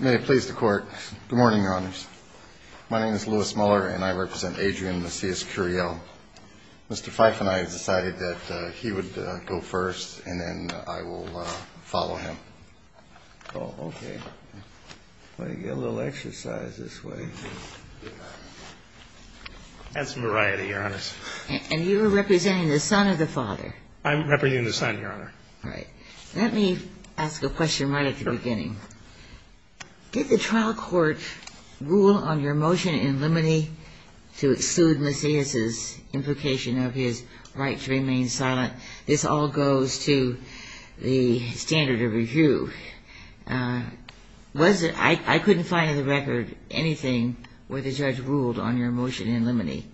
May it please the court. Good morning, your honors. My name is Louis Muller, and I represent Adrian Macias-Curiel. Mr. Fife and I decided that he would go first, and then I will follow him. Oh, okay. Let me get a little exercise this way. That's variety, your honors. And you are representing the son or the father? I'm representing the son, your honor. All right. Let me ask a question right at the beginning. Did the trial court rule on your motion in limine to exclude Macias' implication of his right to remain silent? This all goes to the standard of review. I couldn't find in the record anything where the judge ruled on your motion in limine.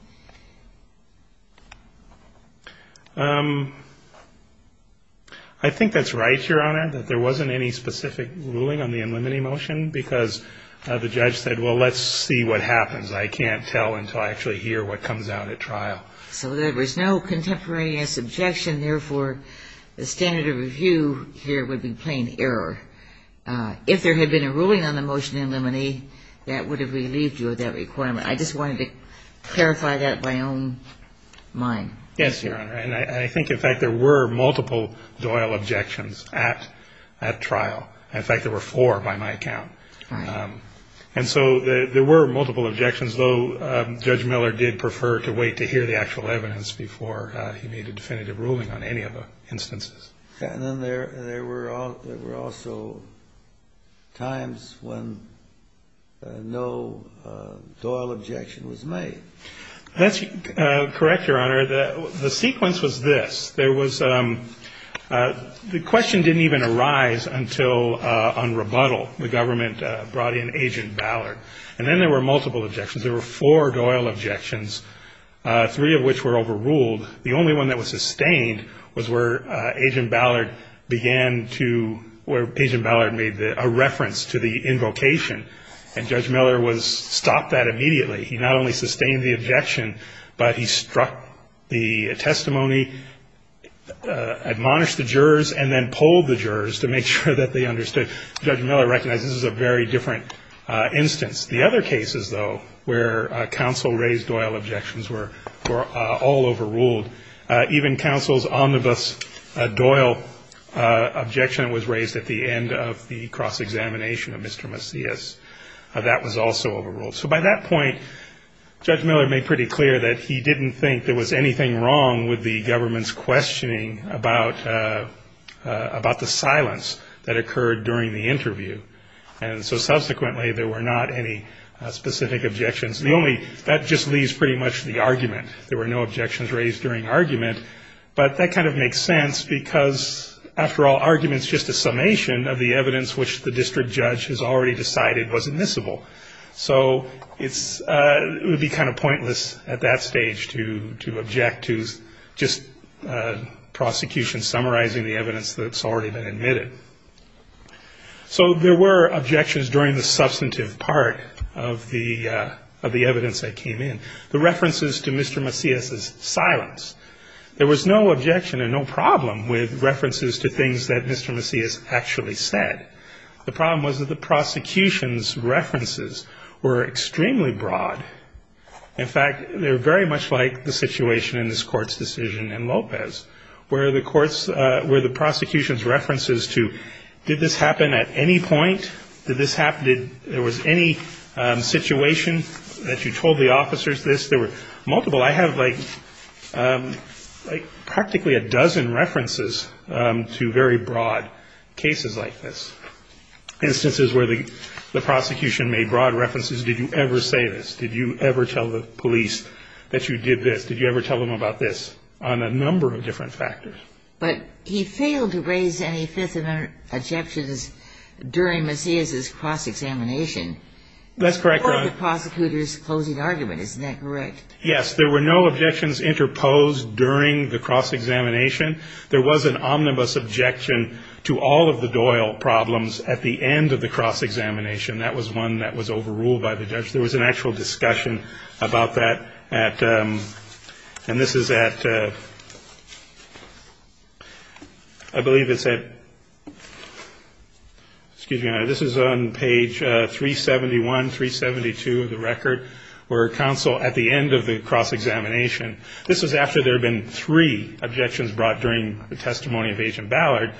I think that's right, your honor, that there wasn't any specific ruling on the in limine motion, because the judge said, well, let's see what happens. I can't tell until I actually hear what comes out at trial. So there was no contemporaneous objection. Therefore, the standard of review here would be plain error. If there had been a ruling on the motion in limine, that would have relieved you of that requirement. I just wanted to clarify that in my own mind. Yes, your honor. And I think, in fact, there were multiple Doyle objections at trial. In fact, there were four by my count. And so there were multiple objections, though Judge Miller did prefer to wait to hear the actual evidence before he made a definitive ruling on any of the instances. And then there were also times when no Doyle objection was made. That's correct, your honor. The sequence was this. The question didn't even arise until on rebuttal. The government brought in Agent Ballard. And then there were multiple objections. There were four Doyle objections, three of which were overruled. The only one that was sustained was where Agent Ballard made a reference to the invocation. And Judge Miller stopped that immediately. He not only sustained the objection, but he struck the testimony, admonished the jurors, and then polled the jurors to make sure that they understood. Judge Miller recognized this was a very different instance. The other cases, though, where counsel raised Doyle objections were all overruled. Even counsel's omnibus Doyle objection was raised at the end of the cross-examination of Mr. Macias. That was also overruled. So by that point, Judge Miller made pretty clear that he didn't think there was anything wrong with the government's questioning about the silence that occurred during the interview. And so subsequently there were not any specific objections. That just leaves pretty much the argument. There were no objections raised during argument. But that kind of makes sense because, after all, argument is just a summation of the evidence which the district judge has already decided was admissible. So it would be kind of pointless at that stage to object to just prosecution summarizing the evidence that's already been admitted. So there were objections during the substantive part of the evidence that came in, the references to Mr. Macias' silence. There was no objection and no problem with references to things that Mr. Macias actually said. The problem was that the prosecution's references were extremely broad. In fact, they're very much like the situation in this Court's decision in Lopez, where the prosecution's references to, did this happen at any point? Did this happen? Did there was any situation that you told the officers this? I have like practically a dozen references to very broad cases like this, instances where the prosecution made broad references. Did you ever say this? Did you ever tell the police that you did this? Did you ever tell them about this on a number of different factors? But he failed to raise any fifth objections during Macias' cross-examination. That's correct, Your Honor. That's the prosecutor's closing argument. Isn't that correct? Yes. There were no objections interposed during the cross-examination. There was an omnibus objection to all of the Doyle problems at the end of the cross-examination. That was one that was overruled by the judge. There was an actual discussion about that at, and this is at, I believe it's at, excuse me, this is on page 371, 372 of the record, where counsel at the end of the cross-examination, this was after there had been three objections brought during the testimony of Agent Ballard.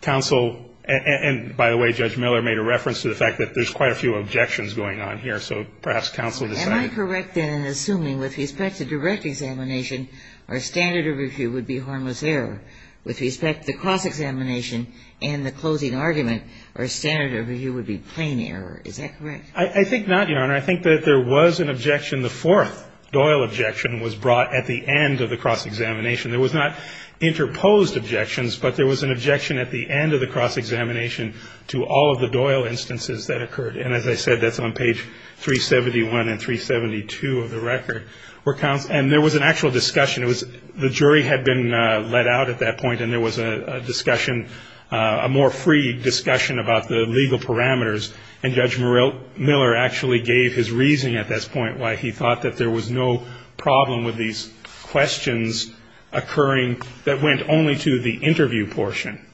Counsel, and by the way, Judge Miller made a reference to the fact that there's quite a few objections going on here. So perhaps counsel decided. Am I correct then in assuming with respect to direct examination, our standard of review would be harmless error? With respect to the cross-examination and the closing argument, our standard of review would be plain error. Is that correct? I think not, Your Honor. I think that there was an objection, the fourth Doyle objection was brought at the end of the cross-examination. There was not interposed objections, but there was an objection at the end of the cross-examination to all of the Doyle instances that occurred. And as I said, that's on page 371 and 372 of the record, where counsel, and there was an actual discussion. It was, the jury had been let out at that point, and there was a discussion, a more free discussion about the legal parameters. And Judge Miller actually gave his reasoning at this point why he thought that there was no problem with these questions occurring that went only to the interview portion.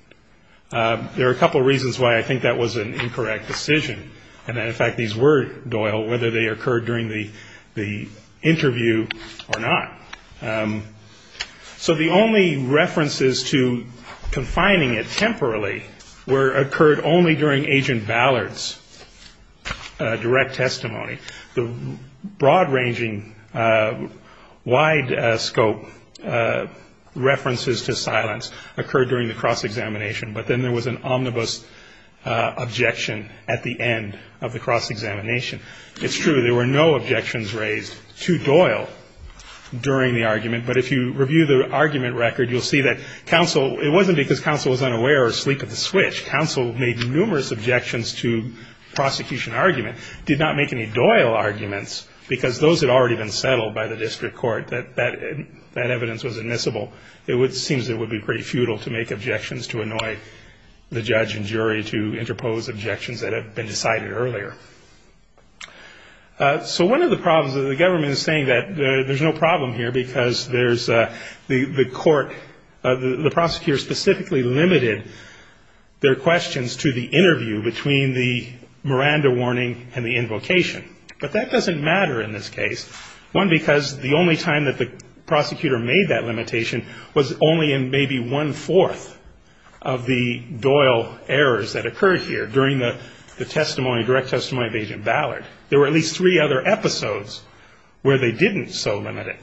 There are a couple of reasons why I think that was an incorrect decision, and that, in fact, these were Doyle, whether they occurred during the interview or not. So the only references to confining it temporarily occurred only during Agent Ballard's direct testimony. The broad-ranging, wide-scope references to silence occurred during the cross-examination, but then there was an omnibus objection at the end of the cross-examination. It's true, there were no objections raised to Doyle during the argument, but if you review the argument record, you'll see that counsel, it wasn't because counsel was unaware or asleep at the switch. Counsel made numerous objections to prosecution argument, did not make any Doyle arguments, because those had already been settled by the district court. That evidence was admissible. It seems it would be pretty futile to make objections to annoy the judge and jury to interpose objections that have been decided earlier. So one of the problems is the government is saying that there's no problem here because there's the court, the prosecutor specifically limited their questions to the interview between the Miranda warning and the invocation. But that doesn't matter in this case. One, because the only time that the prosecutor made that limitation was only in maybe one-fourth of the Doyle errors that occurred here during the testimony, direct testimony of Agent Ballard. There were at least three other episodes where they didn't so limit it.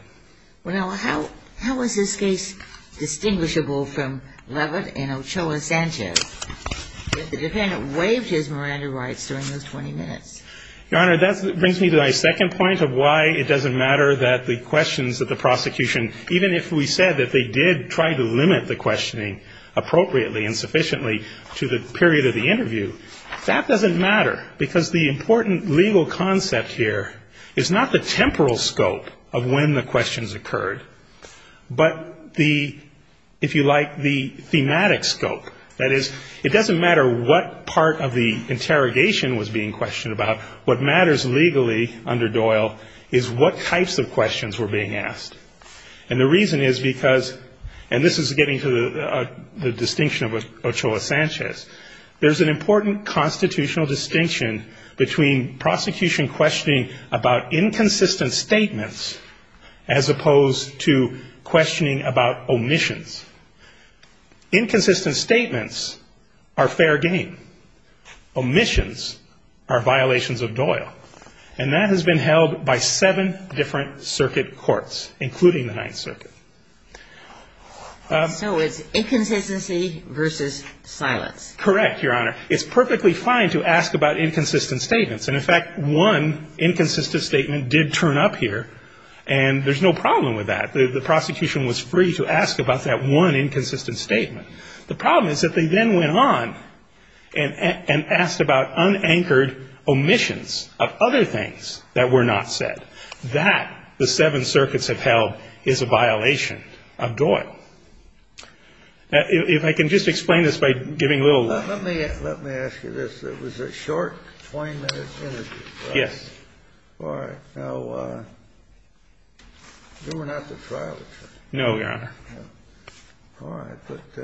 Now, how is this case distinguishable from Leavitt and Ochoa Sanchez, that the defendant waived his Miranda rights during those 20 minutes? Your Honor, that brings me to my second point of why it doesn't matter that the questions that the prosecution, even if we said that they did try to limit the questioning appropriately and sufficiently to the period of the interview, that doesn't matter because the important legal concept here is not the temporal scope of when the questions occurred, but the, if you like, the thematic scope. That is, it doesn't matter what part of the interrogation was being questioned about. What matters legally under Doyle is what types of questions were being asked. And the reason is because, and this is getting to the distinction of Ochoa Sanchez, there's an important constitutional distinction between prosecution questioning about inconsistent statements as opposed to questioning about omissions. Inconsistent statements are fair game. Omissions are violations of Doyle. And that has been held by seven different circuit courts, including the Ninth Circuit. So it's inconsistency versus silence. Correct, Your Honor. It's perfectly fine to ask about inconsistent statements. And, in fact, one inconsistent statement did turn up here, and there's no problem with that. The prosecution was free to ask about that one inconsistent statement. The problem is that they then went on and asked about unanchored omissions of other things that were not said. That, the seven circuits have held, is a violation of Doyle. If I can just explain this by giving a little line. Let me ask you this. It was a short 20-minute interview. Yes. All right. Now, you were not the trial attorney. No, Your Honor. All right. But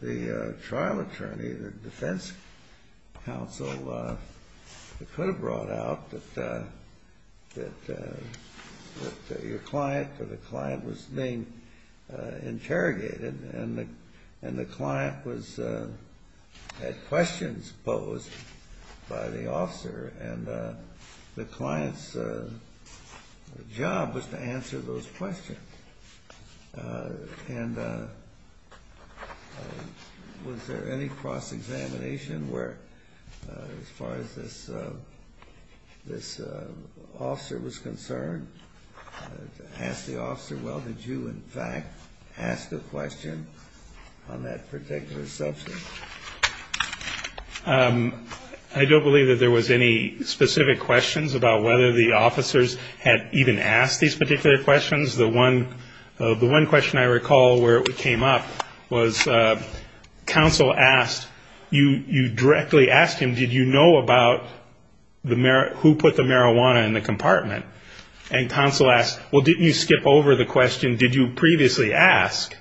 the trial attorney, the defense counsel, could have brought out that your client or the client was being interrogated, and the client had questions posed by the officer, and the client's job was to answer those questions. And was there any cross-examination where, as far as this officer was concerned, to ask the officer, well, did you, in fact, ask a question on that particular subject? I don't believe that there was any specific questions about whether the officers had even asked these particular questions. The one question I recall where it came up was counsel asked, you directly asked him, did you know about who put the marijuana in the compartment? And counsel asked, well, didn't you skip over the question, did you previously ask?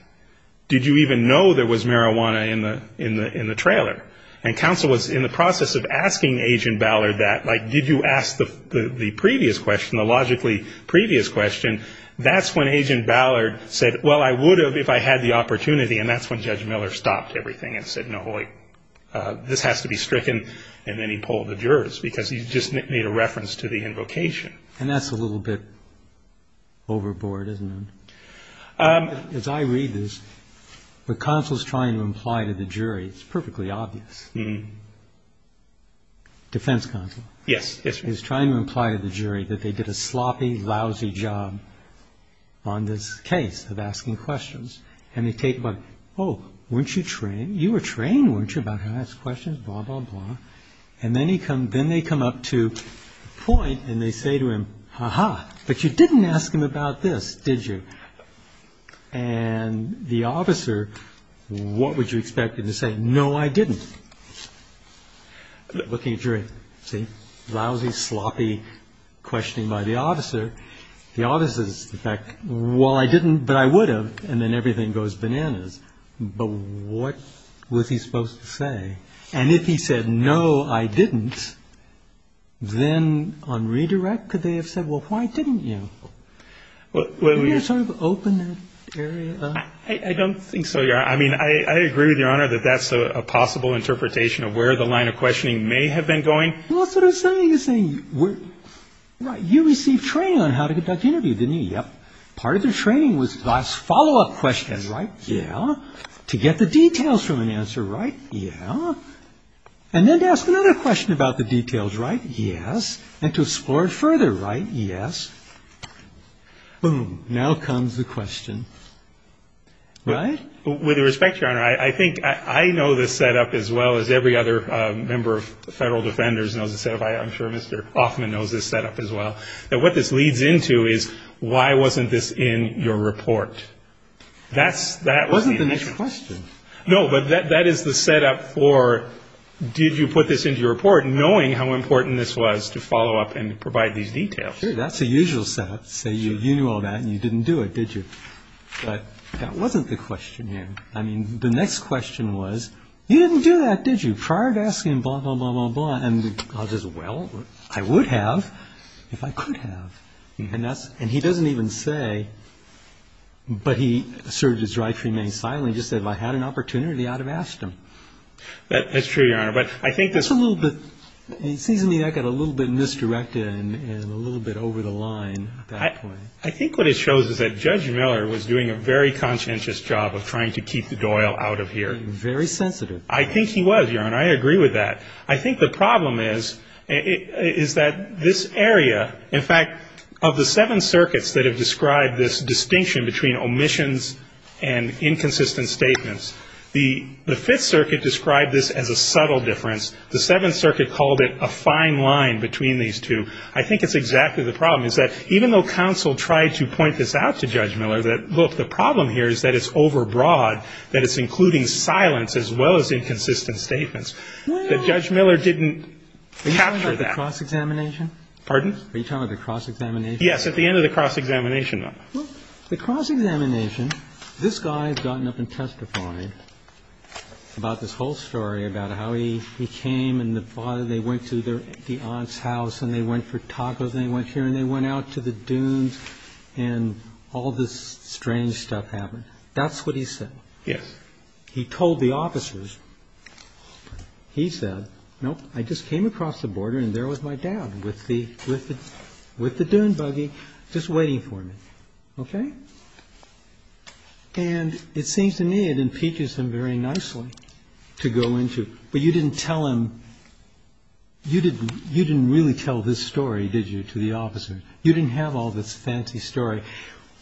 Did you even know there was marijuana in the trailer? And counsel was in the process of asking Agent Ballard that, like, did you ask the previous question, the logically previous question, that's when Agent Ballard said, well, I would have if I had the opportunity, and that's when Judge Miller stopped everything and said, no, wait, this has to be stricken, and then he pulled the jurors because he just made a reference to the invocation. And that's a little bit overboard, isn't it? As I read this, what counsel's trying to imply to the jury is perfectly obvious. Defense counsel. Yes. He's trying to imply to the jury that they did a sloppy, lousy job on this case of asking questions, and they take about, oh, weren't you trained? You were trained, weren't you, about how to ask questions, blah, blah, blah. And then they come up to a point and they say to him, ha-ha, but you didn't ask him about this, did you? And the officer, what would you expect him to say? No, I didn't. Looking at jury, see, lousy, sloppy questioning by the officer. The officer says, in fact, well, I didn't, but I would have, and then everything goes bananas. But what was he supposed to say? And if he said, no, I didn't, then on redirect, could they have said, well, why didn't you? Would you have sort of opened that area up? I don't think so, Your Honor. I mean, I agree with Your Honor that that's a possible interpretation of where the line of questioning may have been going. Well, that's what I'm saying. You're saying, right, you received training on how to conduct interviews, didn't you? Yep. Part of the training was to ask follow-up questions, right? Yeah. To get the details from an answer, right? Yeah. And then to ask another question about the details, right? Yes. And to explore it further, right? Yes. Boom. Now comes the question, right? With respect, Your Honor, I think I know this set-up as well as every other member of Federal Defenders knows this set-up. I'm sure Mr. Hoffman knows this set-up as well, that what this leads into is, why wasn't this in your report? That's the answer. That wasn't the next question. No, but that is the set-up for, did you put this into your report, knowing how important this was to follow-up and provide these details? Sure. That's the usual set-up. So you knew all that, and you didn't do it, did you? But that wasn't the question here. I mean, the next question was, you didn't do that, did you, prior to asking blah, blah, blah, blah, blah. And I'll just, well, I would have if I could have. And he doesn't even say, but he asserted his right to remain silent. He just said, if I had an opportunity, I'd have asked him. That's true, Your Honor. But I think that's a little bit, it seems to me that got a little bit misdirected and a little bit over the line at that point. I think what it shows is that Judge Miller was doing a very conscientious job of trying to keep Doyle out of here. Very sensitive. I think he was, Your Honor. I agree with that. I think the problem is that this area, in fact, of the seven circuits that have described this distinction between omissions and inconsistent statements, the Fifth Circuit described this as a subtle difference. The Seventh Circuit called it a fine line between these two. I think it's exactly the problem, is that even though counsel tried to point this out to Judge Miller, that, look, the problem here is that it's overbroad, that it's including silence as well as inconsistent statements, that Judge Miller didn't capture that. Are you talking about the cross-examination? Pardon? Are you talking about the cross-examination? Yes, at the end of the cross-examination, Your Honor. Well, the cross-examination, this guy had gotten up and testified about this whole story about how he came and the father, and they went to the aunt's house, and they went for tacos, and they went here, and they went out to the dunes, and all this strange stuff happened. That's what he said. Yes. He told the officers. He said, nope, I just came across the border, and there was my dad with the dune buggy just waiting for me. Okay? And it seems to me it impeaches him very nicely to go into, but you didn't tell him, you didn't really tell this story, did you, to the officers? You didn't have all this fancy story,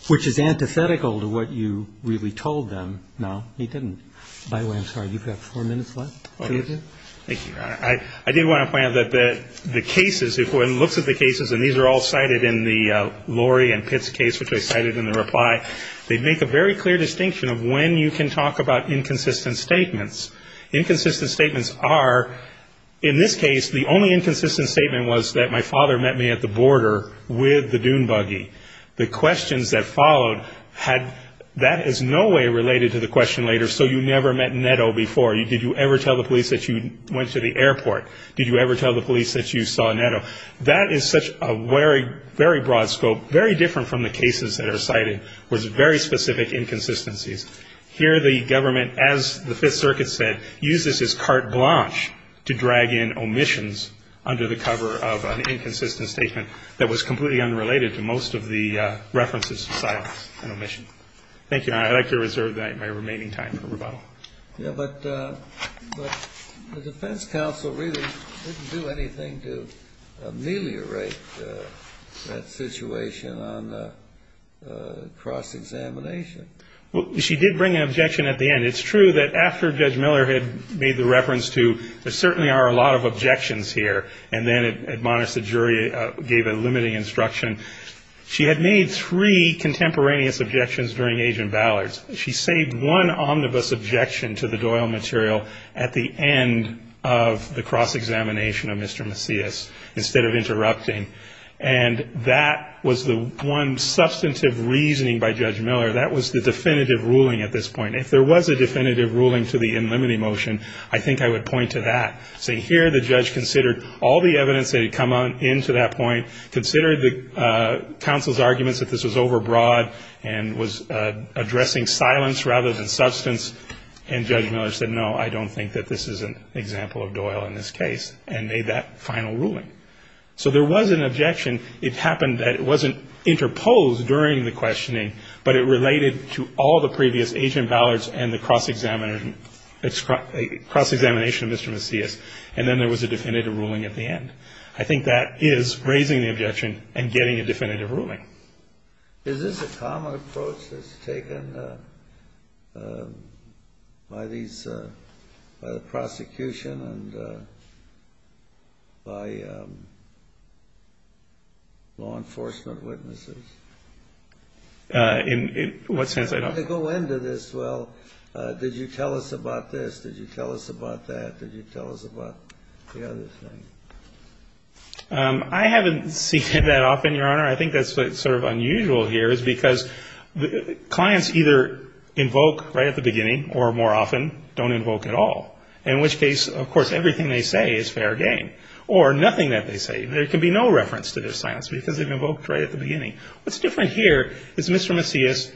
which is antithetical to what you really told them. No, you didn't. By the way, I'm sorry, you've got four minutes left. Thank you, Your Honor. I did want to point out that the cases, if one looks at the cases, and these are all cited in the Lorry and Pitts case, which I cited in the reply, they make a very clear distinction of when you can talk about inconsistent statements. Inconsistent statements are, in this case, the only inconsistent statement was that my father met me at the border with the dune buggy. The questions that followed, that is no way related to the question later, so you never met Netto before. Did you ever tell the police that you went to the airport? Did you ever tell the police that you saw Netto? That is such a very, very broad scope, very different from the cases that are cited with very specific inconsistencies. Here the government, as the Fifth Circuit said, uses this as carte blanche to drag in omissions under the cover of an inconsistent statement that was completely unrelated to most of the references to silence and omission. Thank you, and I'd like to reserve my remaining time for rebuttal. Yeah, but the defense counsel really didn't do anything to ameliorate that situation on cross-examination. Well, she did bring an objection at the end. It's true that after Judge Miller had made the reference to there certainly are a lot of objections here, and then admonished the jury, gave a limiting instruction, she had made three contemporaneous objections during Agent Ballard's. She saved one omnibus objection to the Doyle material at the end of the cross-examination of Mr. Macias instead of interrupting. And that was the one substantive reasoning by Judge Miller. That was the definitive ruling at this point. If there was a definitive ruling to the in limiting motion, I think I would point to that. So here the judge considered all the evidence that had come in to that point, considered the counsel's arguments that this was overbroad and was addressing silence rather than substance, and Judge Miller said, no, I don't think that this is an example of Doyle in this case, and made that final ruling. So there was an objection. It happened that it wasn't interposed during the questioning, but it related to all the previous Agent Ballard's and the cross-examination of Mr. Macias, and then there was a definitive ruling at the end. I think that is raising the objection and getting a definitive ruling. Is this a common approach that's taken by the prosecution and by law enforcement witnesses? In what sense? Well, did you tell us about this? Did you tell us about that? Did you tell us about the other thing? I haven't seen that often, Your Honor. I think that's sort of unusual here is because clients either invoke right at the beginning or more often don't invoke at all, in which case, of course, everything they say is fair game or nothing that they say. There can be no reference to this silence because they've invoked right at the beginning. What's different here is Mr. Macias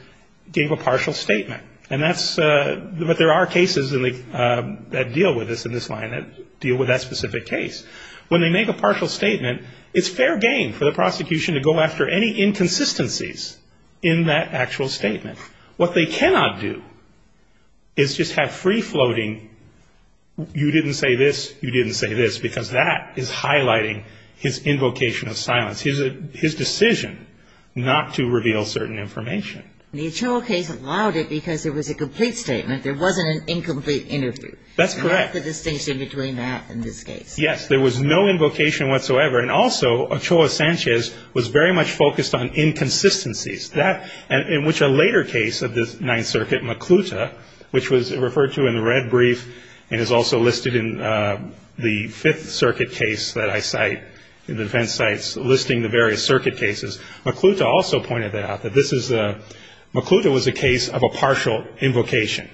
gave a partial statement, but there are cases that deal with this in this line that deal with that specific case. When they make a partial statement, it's fair game for the prosecution to go after any inconsistencies in that actual statement. What they cannot do is just have free-floating, you didn't say this, you didn't say this, because that is highlighting his invocation of silence. It's his decision not to reveal certain information. The Ochoa case allowed it because it was a complete statement. There wasn't an incomplete interview. That's correct. That's the distinction between that and this case. Yes, there was no invocation whatsoever. And also, Ochoa Sanchez was very much focused on inconsistencies, in which a later case of the Ninth Circuit, McLuta, which was referred to in the red brief and is also listed in the Fifth Circuit case that I cite, the defense cites listing the various circuit cases. McLuta also pointed that out, that this is a ñ McLuta was a case of a partial invocation,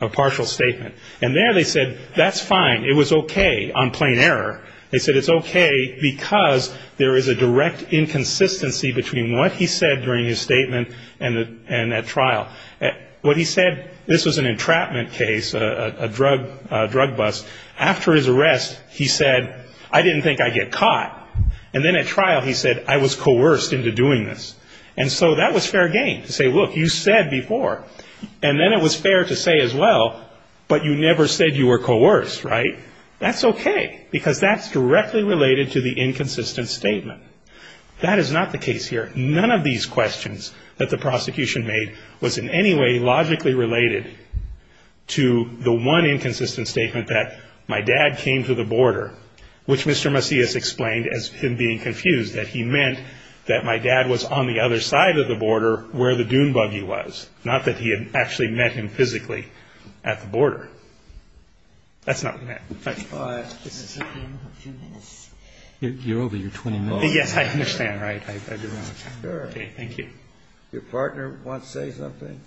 a partial statement. And there they said, that's fine, it was okay on plain error. They said it's okay because there is a direct inconsistency between what he said during his statement and that trial. What he said, this was an entrapment case, a drug bust. After his arrest, he said, I didn't think I'd get caught. And then at trial he said, I was coerced into doing this. And so that was fair game to say, look, you said before. And then it was fair to say as well, but you never said you were coerced, right? That's okay because that's directly related to the inconsistent statement. That is not the case here. None of these questions that the prosecution made was in any way logically related to the one inconsistent statement, that my dad came to the border, which Mr. Macias explained as him being confused, that he meant that my dad was on the other side of the border where the dune buggy was, not that he had actually met him physically at the border. That's not what he meant. You're over your 20 minutes. Yes, I understand. Right. Thank you. Your partner wants to say something.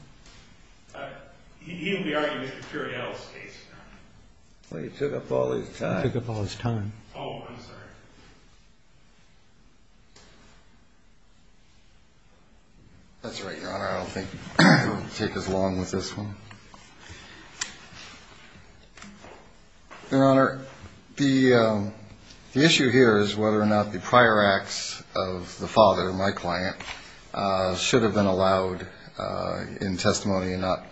He will be arguing Mr. Curiel's case. Well, he took up all his time. He took up all his time. Oh, I'm sorry. That's right, Your Honor. I don't think it will take as long with this one. Your Honor, the issue here is whether or not the prior acts of the father, my client, should have been allowed in testimony and not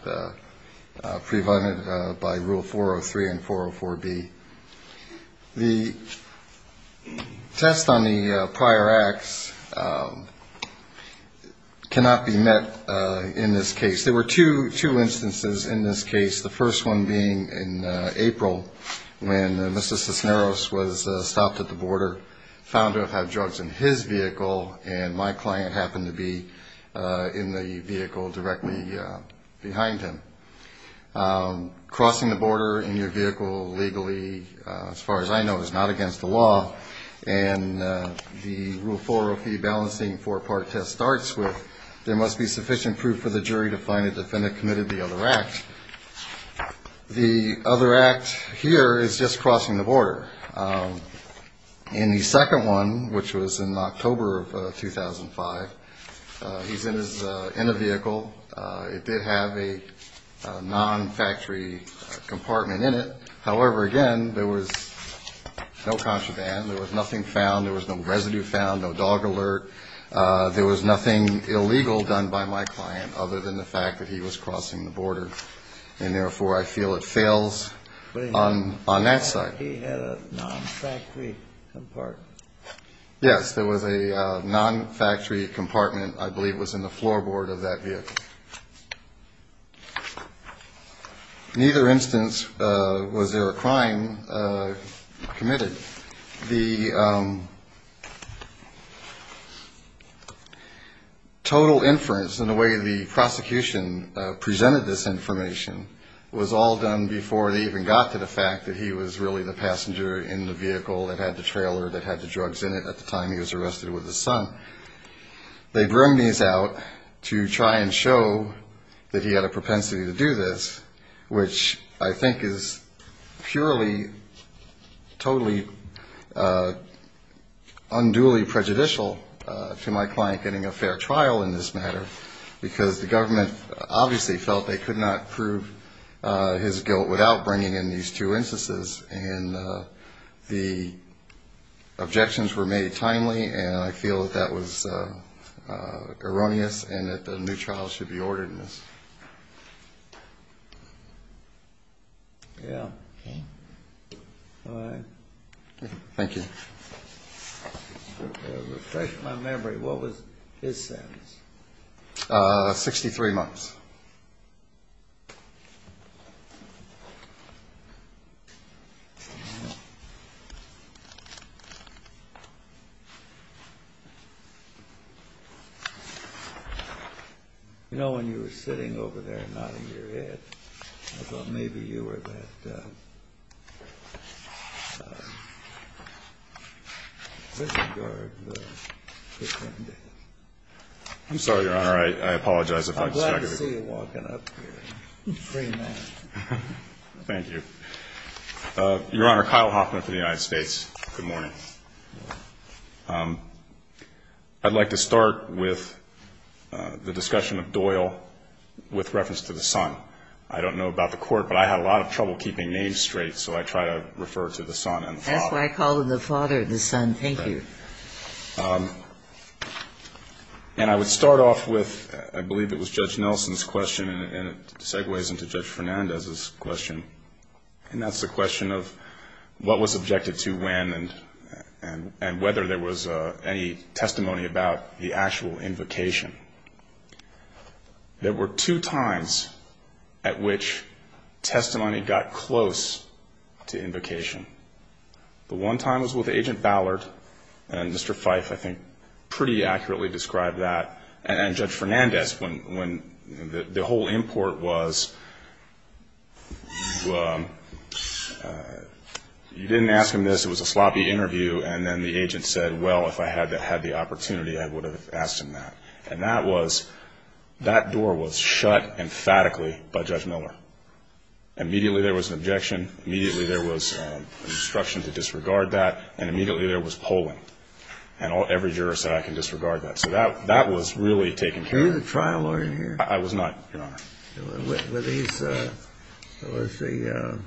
prevented by Rule 403 and 404B. The test on the prior acts cannot be met in this case. There were two instances in this case, the first one being in April when Mr. Cisneros was stopped at the border, found to have had drugs in his vehicle, and my client happened to be in the vehicle directly behind him. Crossing the border in your vehicle legally, as far as I know, is not against the law, and the Rule 403 balancing four-part test starts with, there must be sufficient proof for the jury to find the defendant committed the other act. The other act here is just crossing the border. In the second one, which was in October of 2005, he's in a vehicle. It did have a non-factory compartment in it. However, again, there was no contraband. There was nothing found. There was no residue found, no dog alert. There was nothing illegal done by my client other than the fact that he was crossing the border, and therefore, I feel it fails on that side. He had a non-factory compartment. Yes. There was a non-factory compartment I believe was in the floorboard of that vehicle. Neither instance was there a crime committed. The total inference in the way the prosecution presented this information was all done before they even got to the fact that he was really the passenger in the vehicle that had the trailer that had the drugs in it at the time he was arrested with his son. They bring these out to try and show that he had a propensity to do this, which I think is purely totally unduly prejudicial to my client getting a fair trial in this matter, because the government obviously felt they could not prove his guilt without bringing in these two instances, and the objections were made timely, and I feel that that was erroneous and that a new trial should be ordered in this. Yeah. Okay. All right. Thank you. To refresh my memory, what was his sentence? Sixty-three months. You know, when you were sitting over there nodding your head, I thought maybe you were that prison guard. I'm sorry, Your Honor. I apologize if I distracted you. I'm glad to see you walking up here. Free man. Thank you. Your Honor, Kyle Hoffman for the United States. Good morning. Good morning. I'd like to start with the discussion of Doyle with reference to the son. I don't know about the Court, but I had a lot of trouble keeping names straight, so I try to refer to the son and the father. That's why I called him the father and the son. Thank you. And I would start off with, I believe it was Judge Nelson's question, and it segues into Judge Fernandez's question, and that's the question of what was objected to when and whether there was any testimony about the actual invocation. There were two times at which testimony got close to invocation. The one time was with Agent Ballard, and Mr. Fife, I think, pretty accurately described that. And Judge Fernandez, when the whole import was you didn't ask him this, it was a sloppy interview, and then the agent said, well, if I had the opportunity, I would have asked him that. And that was, that door was shut emphatically by Judge Miller. Immediately there was an objection. Immediately there was instruction to disregard that, and immediately there was polling. And every juror said I can disregard that. So that was really taken care of. Were you the trial lawyer here? I was not, Your Honor. Were these, was the,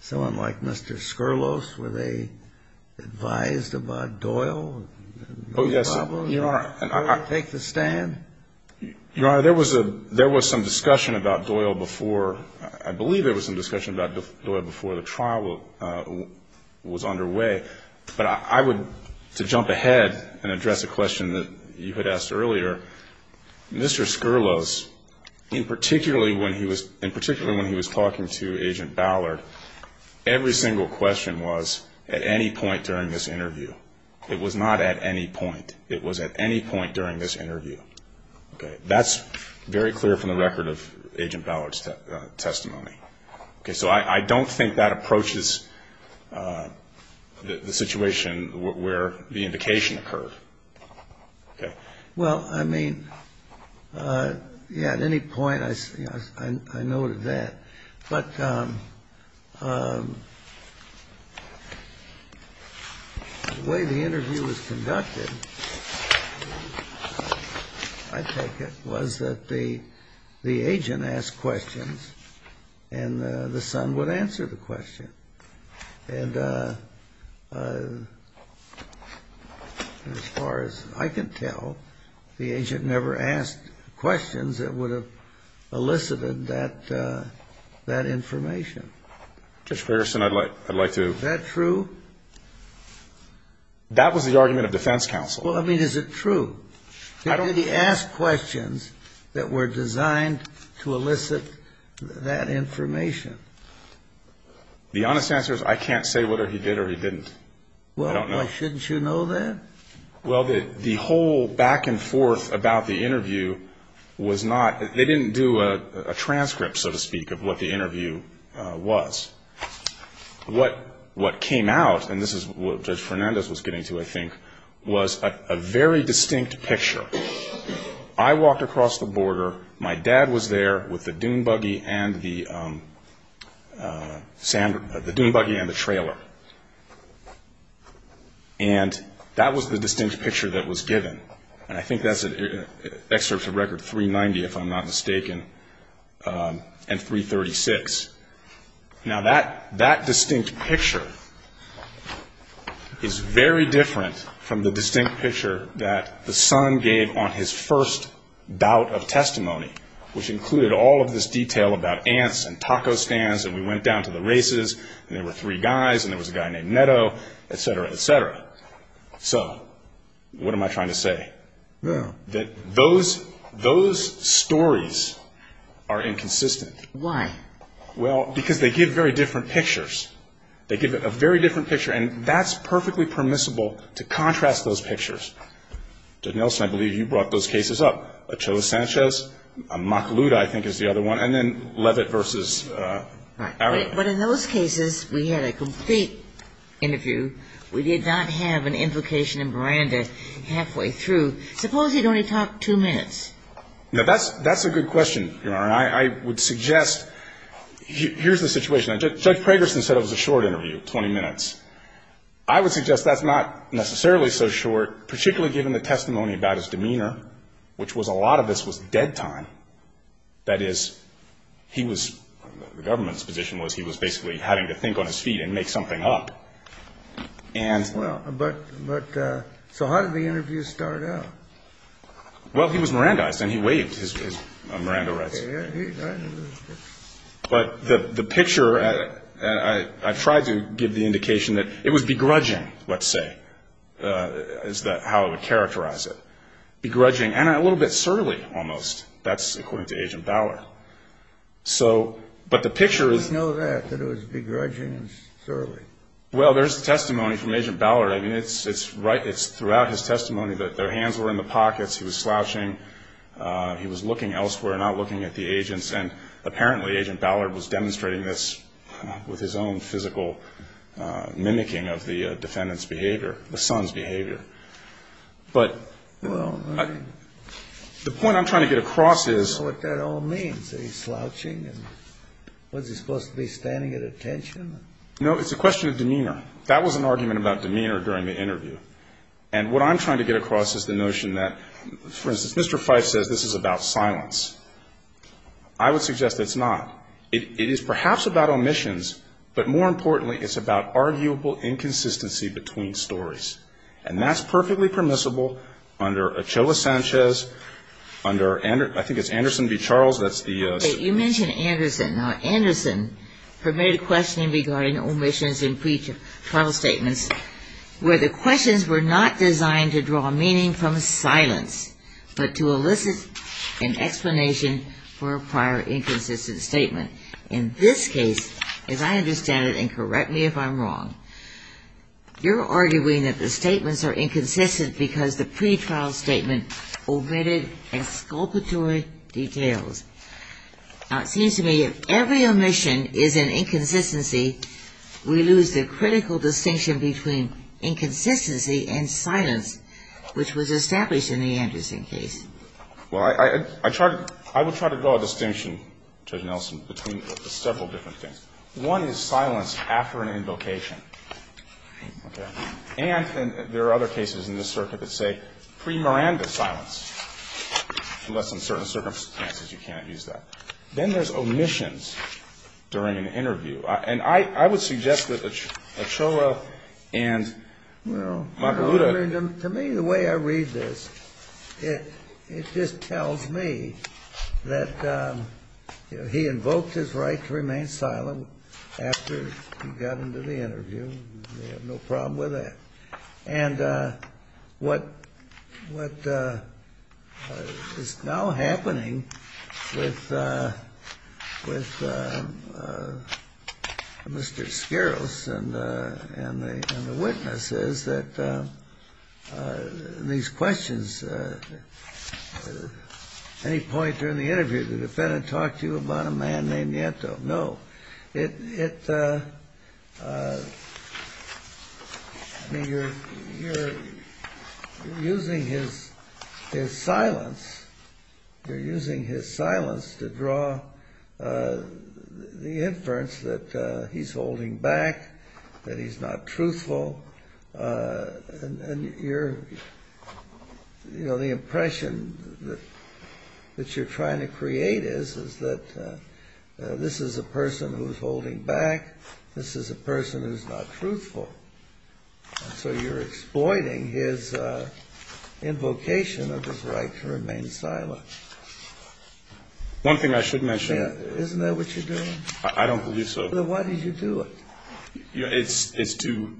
someone like Mr. Skourlos, were they advised about Doyle? Oh, yes, Your Honor. Did they take the stand? Your Honor, there was some discussion about Doyle before, I believe there was some discussion about Doyle before the trial was underway. But I would, to jump ahead and address a question that you had asked earlier, Mr. Skourlos, in particularly when he was talking to Agent Ballard, every single question was at any point during this interview. It was not at any point. It was at any point during this interview. Okay. That's very clear from the record of Agent Ballard's testimony. Okay. So I don't think that approaches the situation where the indication occurred. Okay. Well, I mean, yeah, at any point I noted that. But the way the interview was conducted, I take it, was that the agent asked questions and the son would answer the question. And as far as I can tell, the agent never asked questions that would have elicited that information. Judge Ferguson, I'd like to. Is that true? That was the argument of defense counsel. Well, I mean, is it true? Did he ask questions that were designed to elicit that information? The honest answer is I can't say whether he did or he didn't. I don't know. Well, why shouldn't you know that? Well, the whole back and forth about the interview was not, they didn't do a transcript, so to speak, of what the interview was. What came out, and this is what Judge Fernandez was getting to, I think, was a very distinct picture. I walked across the border. My dad was there with the dune buggy and the trailer. And that was the distinct picture that was given, and I think that's an excerpt from Record 390, if I'm not mistaken, and 336. Now, that distinct picture is very different from the distinct picture that the son gave on his first bout of testimony, which included all of this detail about ants and taco stands and we went down to the races and there were three guys and there was a guy named Neto, et cetera, et cetera. So what am I trying to say? That those stories are inconsistent. Why? Well, because they give very different pictures. They give a very different picture, and that's perfectly permissible to contrast those pictures. Nelson, I believe you brought those cases up, Ochoa Sanchez, Macaluda, I think, is the other one, and then Levitt v. Aravin. Right. But in those cases, we had a complete interview. We did not have an implication in Miranda halfway through. Suppose he'd only talked two minutes. Now, that's a good question, Your Honor, and I would suggest here's the situation. Judge Pragerson said it was a short interview, 20 minutes. I would suggest that's not necessarily so short, particularly given the testimony about his demeanor, which was a lot of this was dead time. That is, the government's position was he was basically having to think on his feet and make something up. Well, but so how did the interview start out? Well, he was Mirandized, and he waived his Miranda rights. But the picture, I've tried to give the indication that it was begrudging, let's say, is how I would characterize it. Begrudging and a little bit surly, almost. That's according to Agent Ballard. So, but the picture is. I didn't know that, that it was begrudging and surly. Well, there's testimony from Agent Ballard. I mean, it's right, it's throughout his testimony that their hands were in the pockets. He was slouching. He was looking elsewhere, not looking at the agents, and apparently Agent Ballard was demonstrating this with his own physical mimicking of the defendant's behavior, the son's behavior. But the point I'm trying to get across is. I don't know what that all means. Is he slouching? Was he supposed to be standing at attention? No, it's a question of demeanor. That was an argument about demeanor during the interview. And what I'm trying to get across is the notion that, for instance, Mr. Fife says this is about silence. I would suggest it's not. It is perhaps about omissions, but more importantly, it's about arguable inconsistency between stories. And that's perfectly permissible under Achilles-Sanchez, under, I think it's Anderson v. Charles, that's the. You mentioned Anderson. Now, Anderson permitted questioning regarding omissions in pre-trial statements where the questions were not designed to draw meaning from silence, but to elicit an explanation for a prior inconsistent statement. In this case, as I understand it, and correct me if I'm wrong, you're arguing that the statements are inconsistent because the pre-trial statement omitted exculpatory details. Now, it seems to me if every omission is an inconsistency, we lose the critical distinction between inconsistency and silence, which was established in the Anderson case. Well, I would try to draw a distinction, Judge Nelson, between several different things. One is silence after an invocation. Okay? And there are other cases in this circuit that say pre-Miranda silence, unless in certain circumstances you can't use that. Then there's omissions during an interview. And I would suggest that Achilla and Monteluta. To me, the way I read this, it just tells me that he invoked his right to remain silent after he got into the interview. We have no problem with that. And what is now happening with Mr. Skeros and the witnesses that these questions, any point during the interview, the defendant talked to you about a man named Nieto. No. You're using his silence to draw the inference that he's holding back, that he's not truthful. And the impression that you're trying to create is that this is a person who's holding back. This is a person who's not truthful. So you're exploiting his invocation of his right to remain silent. One thing I should mention. Isn't that what you're doing? I don't believe so. Then why did you do it? It's to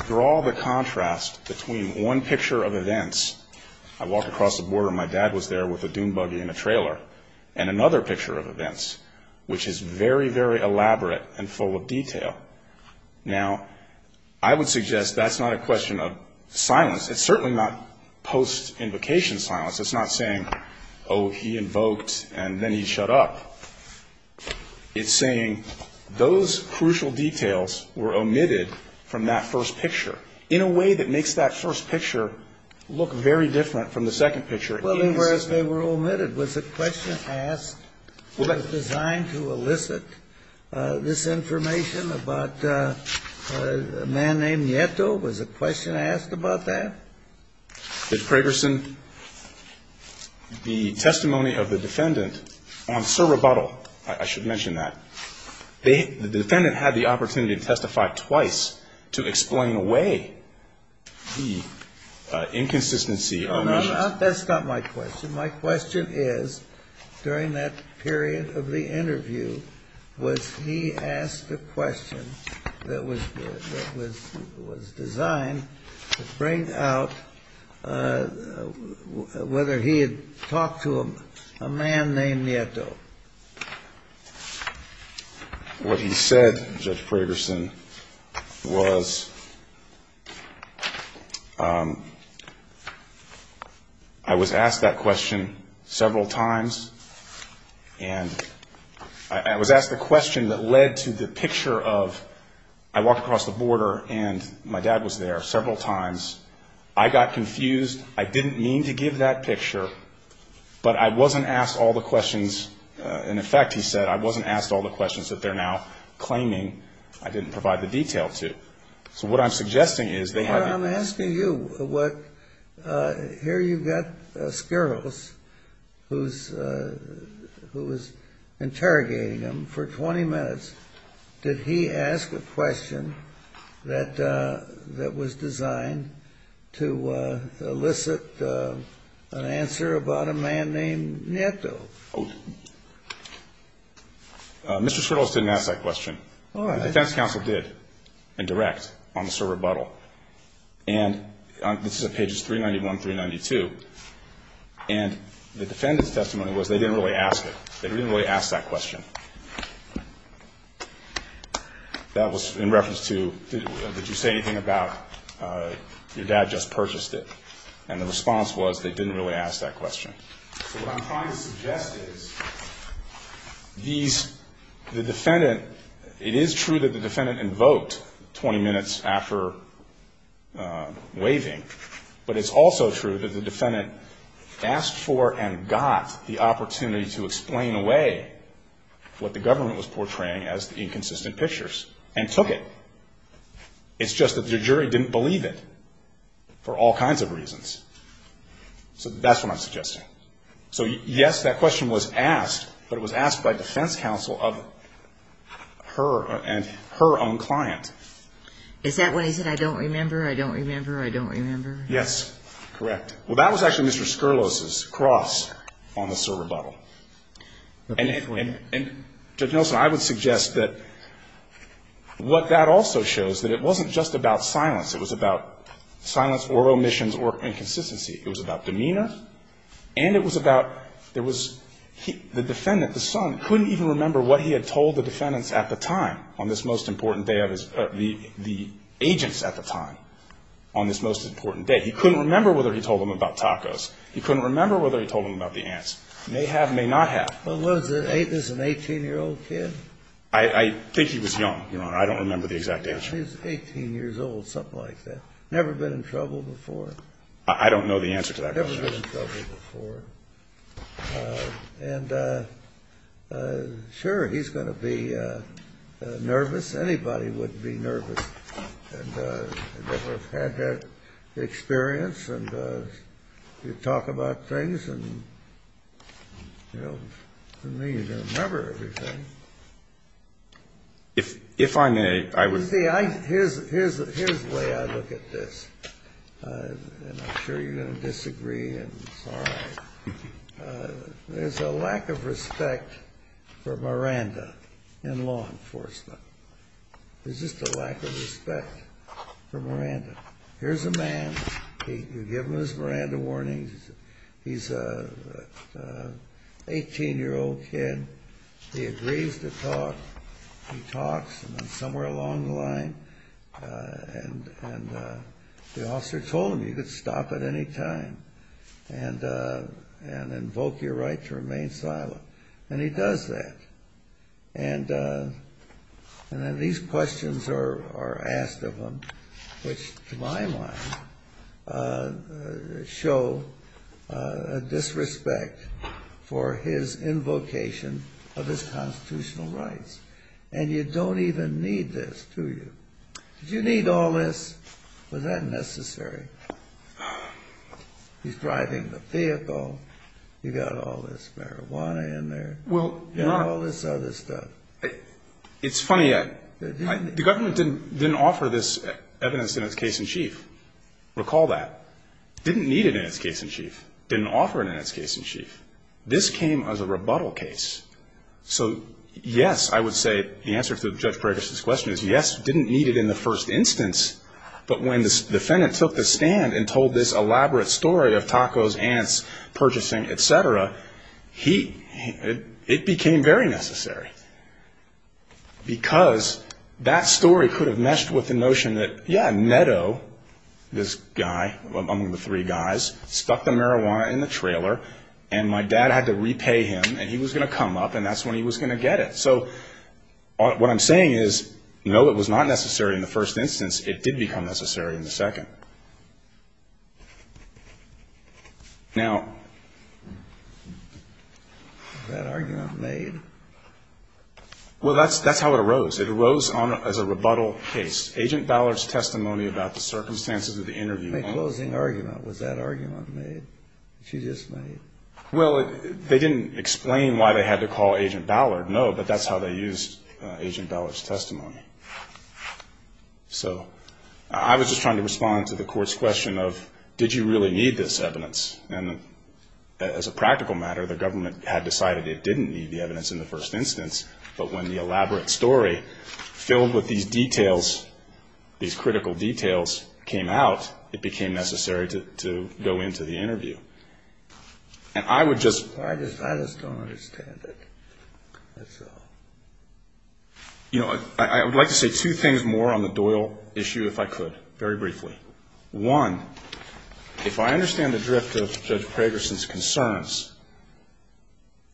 draw the contrast between one picture of events. I walked across the border and my dad was there with a dune buggy and a trailer. And another picture of events, which is very, very elaborate and full of detail. Now, I would suggest that's not a question of silence. It's certainly not post-invocation silence. It's not saying, oh, he invoked and then he shut up. It's saying those crucial details were omitted from that first picture in a way that makes that first picture look very different from the second picture. Well, in other words, they were omitted. Was the question asked? It was designed to elicit this information about a man named Nieto. Was a question asked about that? Mr. Kragerson, the testimony of the defendant on Sir Roboto, I should mention that, the defendant had the opportunity to testify twice to explain away the inconsistency on Nieto. That's not my question. My question is, during that period of the interview, was he asked a question that was designed to bring out whether he had talked to a man named Nieto? What he said, Judge Kragerson, was, I was asked that question several times and I was asked a question that led to the picture of, I walked across the border and my dad was there several times. I got confused. I didn't mean to give that picture, but I wasn't asked all the questions. And, in fact, he said, I wasn't asked all the questions that they're now claiming I didn't provide the detail to. So what I'm suggesting is they had... Mr. Skrittles didn't ask that question. The defense counsel did, in direct, on the Sir Roboto. And this is at pages 391, 392. And the defendant's testimony was they didn't really ask it. They didn't really ask that question. That was in reference to, did you say anything about your dad just purchased it? And the response was they didn't really ask that question. So what I'm trying to suggest is these, the defendant, it is true that the defendant invoked 20 minutes after waving. But it's also true that the defendant asked for and got the opportunity to explain away what the government was portraying as the inconsistent pictures. And took it. It's just that the jury didn't believe it for all kinds of reasons. So that's what I'm suggesting. So, yes, that question was asked, but it was asked by defense counsel of her and her own client. Is that when he said, I don't remember, I don't remember, I don't remember? Yes. Correct. Well, that was actually Mr. Skrittles' cross on the Sir Roboto. And, Judge Nelson, I would suggest that what that also shows, that it wasn't just about silence. It was about silence or omissions or inconsistency. It was about demeanor and it was about, there was, the defendant, the son, couldn't even remember what he had told the defendants at the time on this most important day of his, the agents at the time on this most important day. He couldn't remember whether he told them about tacos. He couldn't remember whether he told them about the ants. May have, may not have. Well, was it, ain't this an 18-year-old kid? I think he was young, Your Honor. I don't remember the exact age. He was 18 years old, something like that. Never been in trouble before? I don't know the answer to that question. Never been in trouble before. And, sure, he's going to be nervous. Anybody would be nervous. And never had that experience and you talk about things and, you know, doesn't mean you're going to remember everything. If I'm going to, I would. Here's the way I look at this, and I'm sure you're going to disagree and it's all right. There's a lack of respect for Miranda in law enforcement. There's just a lack of respect for Miranda. Here's a man. You give him his Miranda warnings. He's an 18-year-old kid. He agrees to talk. He talks and then somewhere along the line the officer told him you could stop at any time and invoke your right to remain silent. And he does that. And then these questions are asked of him, which to my mind show a disrespect for his invocation of his constitutional rights. And you don't even need this, do you? Did you need all this? Was that necessary? He's driving the vehicle. You've got all this marijuana in there. You've got all this other stuff. It's funny, Ed. The government didn't offer this evidence in its case in chief. Recall that. Didn't need it in its case in chief. Didn't offer it in its case in chief. This came as a rebuttal case. So, yes, I would say the answer to Judge Preggers' question is yes, didn't need it in the first instance. But when the defendant took the stand and told this elaborate story of tacos, ants, purchasing, et cetera, it became very necessary. Because that story could have meshed with the notion that, yeah, Netto, this guy among the three guys, stuck the marijuana in the trailer, and my dad had to repay him, and he was going to come up, and that's when he was going to get it. So what I'm saying is, no, it was not necessary in the first instance. It did become necessary in the second. Okay. Now. Was that argument made? Well, that's how it arose. It arose as a rebuttal case. Agent Ballard's testimony about the circumstances of the interview. My closing argument, was that argument made? She just made it. Well, they didn't explain why they had to call Agent Ballard, no, but that's how they used Agent Ballard's testimony. So I was just trying to respond to the court's question of, did you really need this evidence? And as a practical matter, the government had decided it didn't need the evidence in the first instance, but when the elaborate story filled with these details, these critical details, came out, it became necessary to go into the interview. And I would just. I just don't understand it. You know, I would like to say two things more on the Doyle issue, if I could, very briefly. One, if I understand the drift of Judge Pragerson's concerns,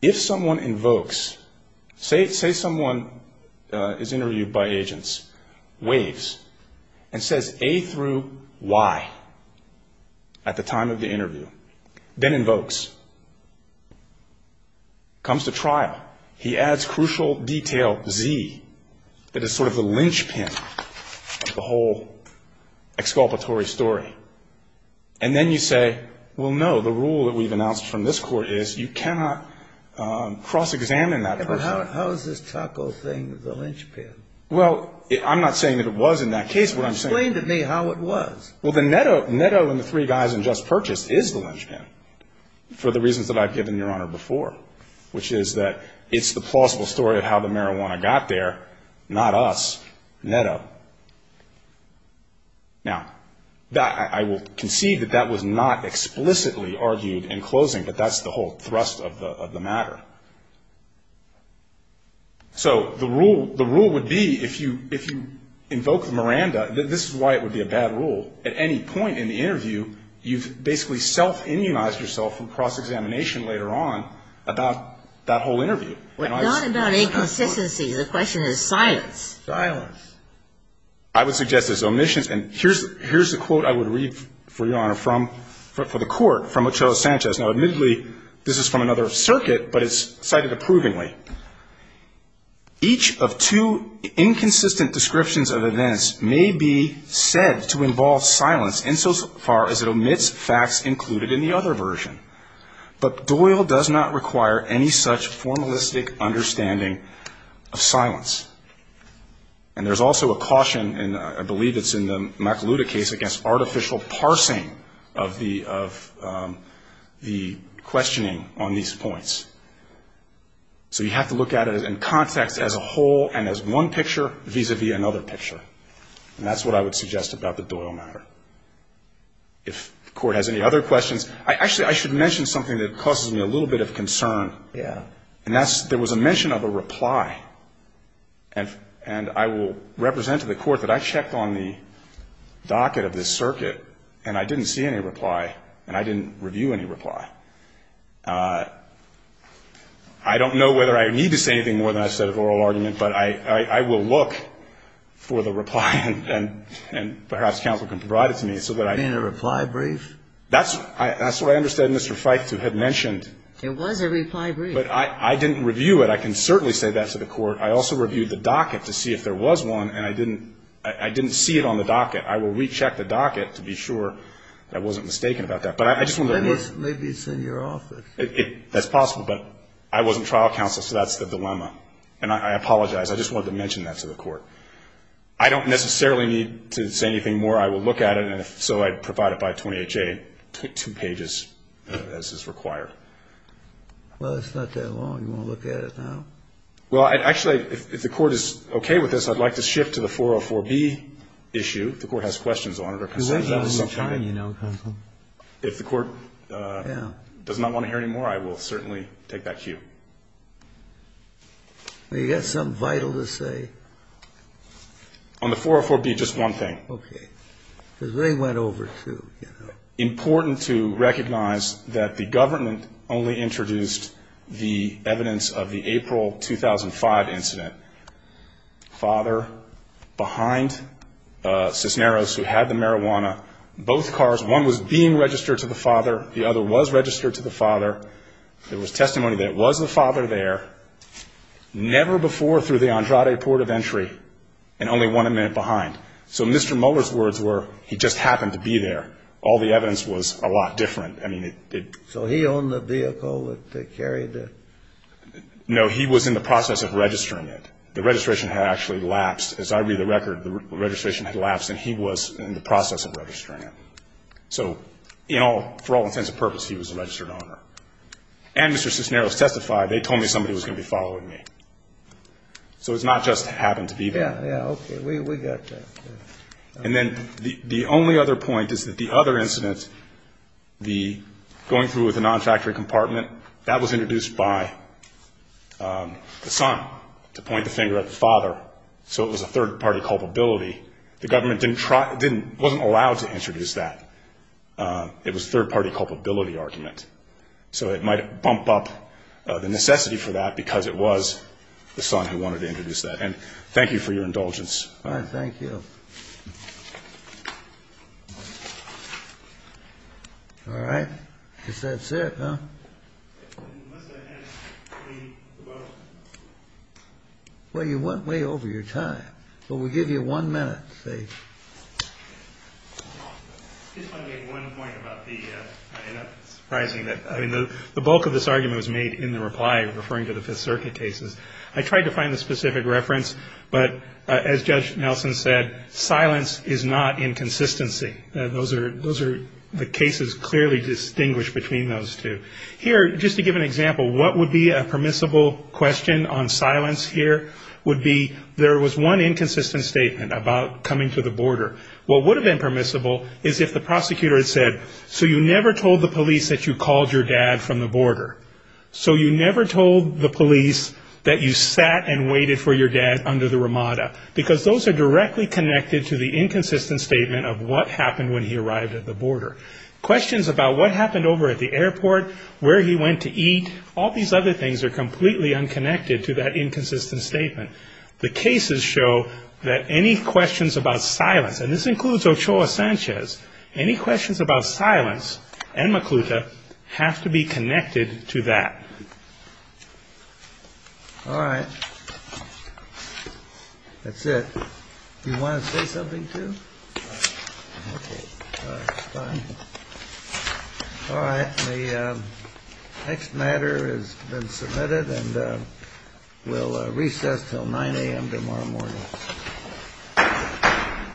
if someone invokes, say someone is interviewed by agents, waives, and says A through Y at the time of the interview, then invokes, comes to trial, he adds crucial detail Z that is sort of the lynchpin to the whole exculpatory story, and then you say, well, no, the rule that we've announced from this court is you cannot cross-examine that person. How is this taco thing the lynchpin? Well, I'm not saying that it was in that case, but I'm saying. Explain to me how it was. Well, the Netto and the three guys in Just Purchase is the lynchpin, for the reasons that I've given Your Honor before, which is that it's the plausible story of how the marijuana got there, not us, Netto. Now, I will concede that that was not explicitly argued in closing, but that's the whole thrust of the matter. So the rule would be if you invoke the Miranda, this is why it would be a bad rule, at any point in the interview, you've basically self-immunized yourself from cross-examination later on about that whole interview. Well, it's not about inconsistency. The question is silence. Silence. I would suggest it's omissions, and here's the quote I would read for Your Honor from the court from Otero Sanchez. Now, admittedly, this is from another circuit, but it's cited approvingly. Each of two inconsistent descriptions of events may be said to involve silence insofar as it omits facts included in the other version, but Doyle does not require any such formalistic understanding of silence. And there's also a caution, and I believe it's in the McAluda case, against artificial parsing of the questioning on these points. So you have to look at it in context as a whole and as one picture vis-à-vis another picture, and that's what I would suggest about the Doyle matter. If the court has any other questions, I should mention something that causes me a little bit of concern, and that's there was a mention of a reply. And I will represent to the court that I checked on the docket of this circuit, and I didn't see any reply, and I didn't review any reply. I don't know whether I need to say anything more than I said of oral argument, but I will look for the reply, and perhaps counsel can provide it to me so that I can. In a reply brief? That's what I understood Mr. Fykes had mentioned. There was a reply brief. But I didn't review it. I can certainly say that to the court. I also reviewed the docket to see if there was one, and I didn't see it on the docket. I will recheck the docket to be sure that I wasn't mistaken about that. But I just wanted to let you know. Maybe it's in your office. That's possible, but I wasn't trial counsel, so that's the dilemma. And I apologize. I just wanted to mention that to the court. I don't necessarily need to say anything more. I will look at it, and if so, I'd provide it by 28J, two pages as is required. Well, it's not that long. You want to look at it now? Well, actually, if the Court is okay with this, I'd like to shift to the 404B issue. If the Court has questions on it or concerns about it at some point. You're waiting on your time, you know, counsel. If the Court does not want to hear any more, I will certainly take that cue. Well, you got something vital to say? On the 404B, just one thing. Okay. Because Ray went over, too, you know. Important to recognize that the government only introduced the evidence of the April 2005 incident. Father behind Cisneros, who had the marijuana, both cars. One was being registered to the father. The other was registered to the father. There was testimony that it was the father there, never before through the Andrade port of entry, and only one minute behind. So Mr. Mueller's words were, he just happened to be there. All the evidence was a lot different. I mean, it didn't. So he owned the vehicle that carried it? No. He was in the process of registering it. The registration had actually lapsed. As I read the record, the registration had lapsed, and he was in the process of registering it. So, you know, for all intents and purposes, he was a registered owner. And Mr. Cisneros testified, they told me somebody was going to be following me. So it's not just happened to be there. Yeah, yeah. Okay. We got that. And then the only other point is that the other incident, the going through with a non-factory compartment, that was introduced by the son to point the finger at the father. So it was a third-party culpability. The government wasn't allowed to introduce that. It was a third-party culpability argument. So it might bump up the necessity for that because it was the son who wanted to introduce that. And thank you for your indulgence. All right. Thank you. All right. I guess that's it, huh? Well, you went way over your time. But we'll give you one minute to say. I just want to make one point about the surprising that, I mean, the bulk of this argument was made in the reply referring to the Fifth Circuit cases. I tried to find the specific reference. But as Judge Nelson said, silence is not inconsistency. Those are the cases clearly distinguished between those two. Here, just to give an example, what would be a permissible question on silence here would be, there was one inconsistent statement about coming to the border. What would have been permissible is if the prosecutor had said, so you never told the police that you called your dad from the border. So you never told the police that you sat and waited for your dad under the Ramada. Because those are directly connected to the inconsistent statement of what happened when he arrived at the border. Questions about what happened over at the airport, where he went to eat, all these other things are completely unconnected to that inconsistent statement. The cases show that any questions about silence, and this includes Ochoa Sanchez, any questions about silence and Makluta have to be connected to that. All right. That's it. Do you want to say something, too? Okay. All right. Bye. All right. The next matter has been submitted and we'll recess until 9 a.m. tomorrow morning.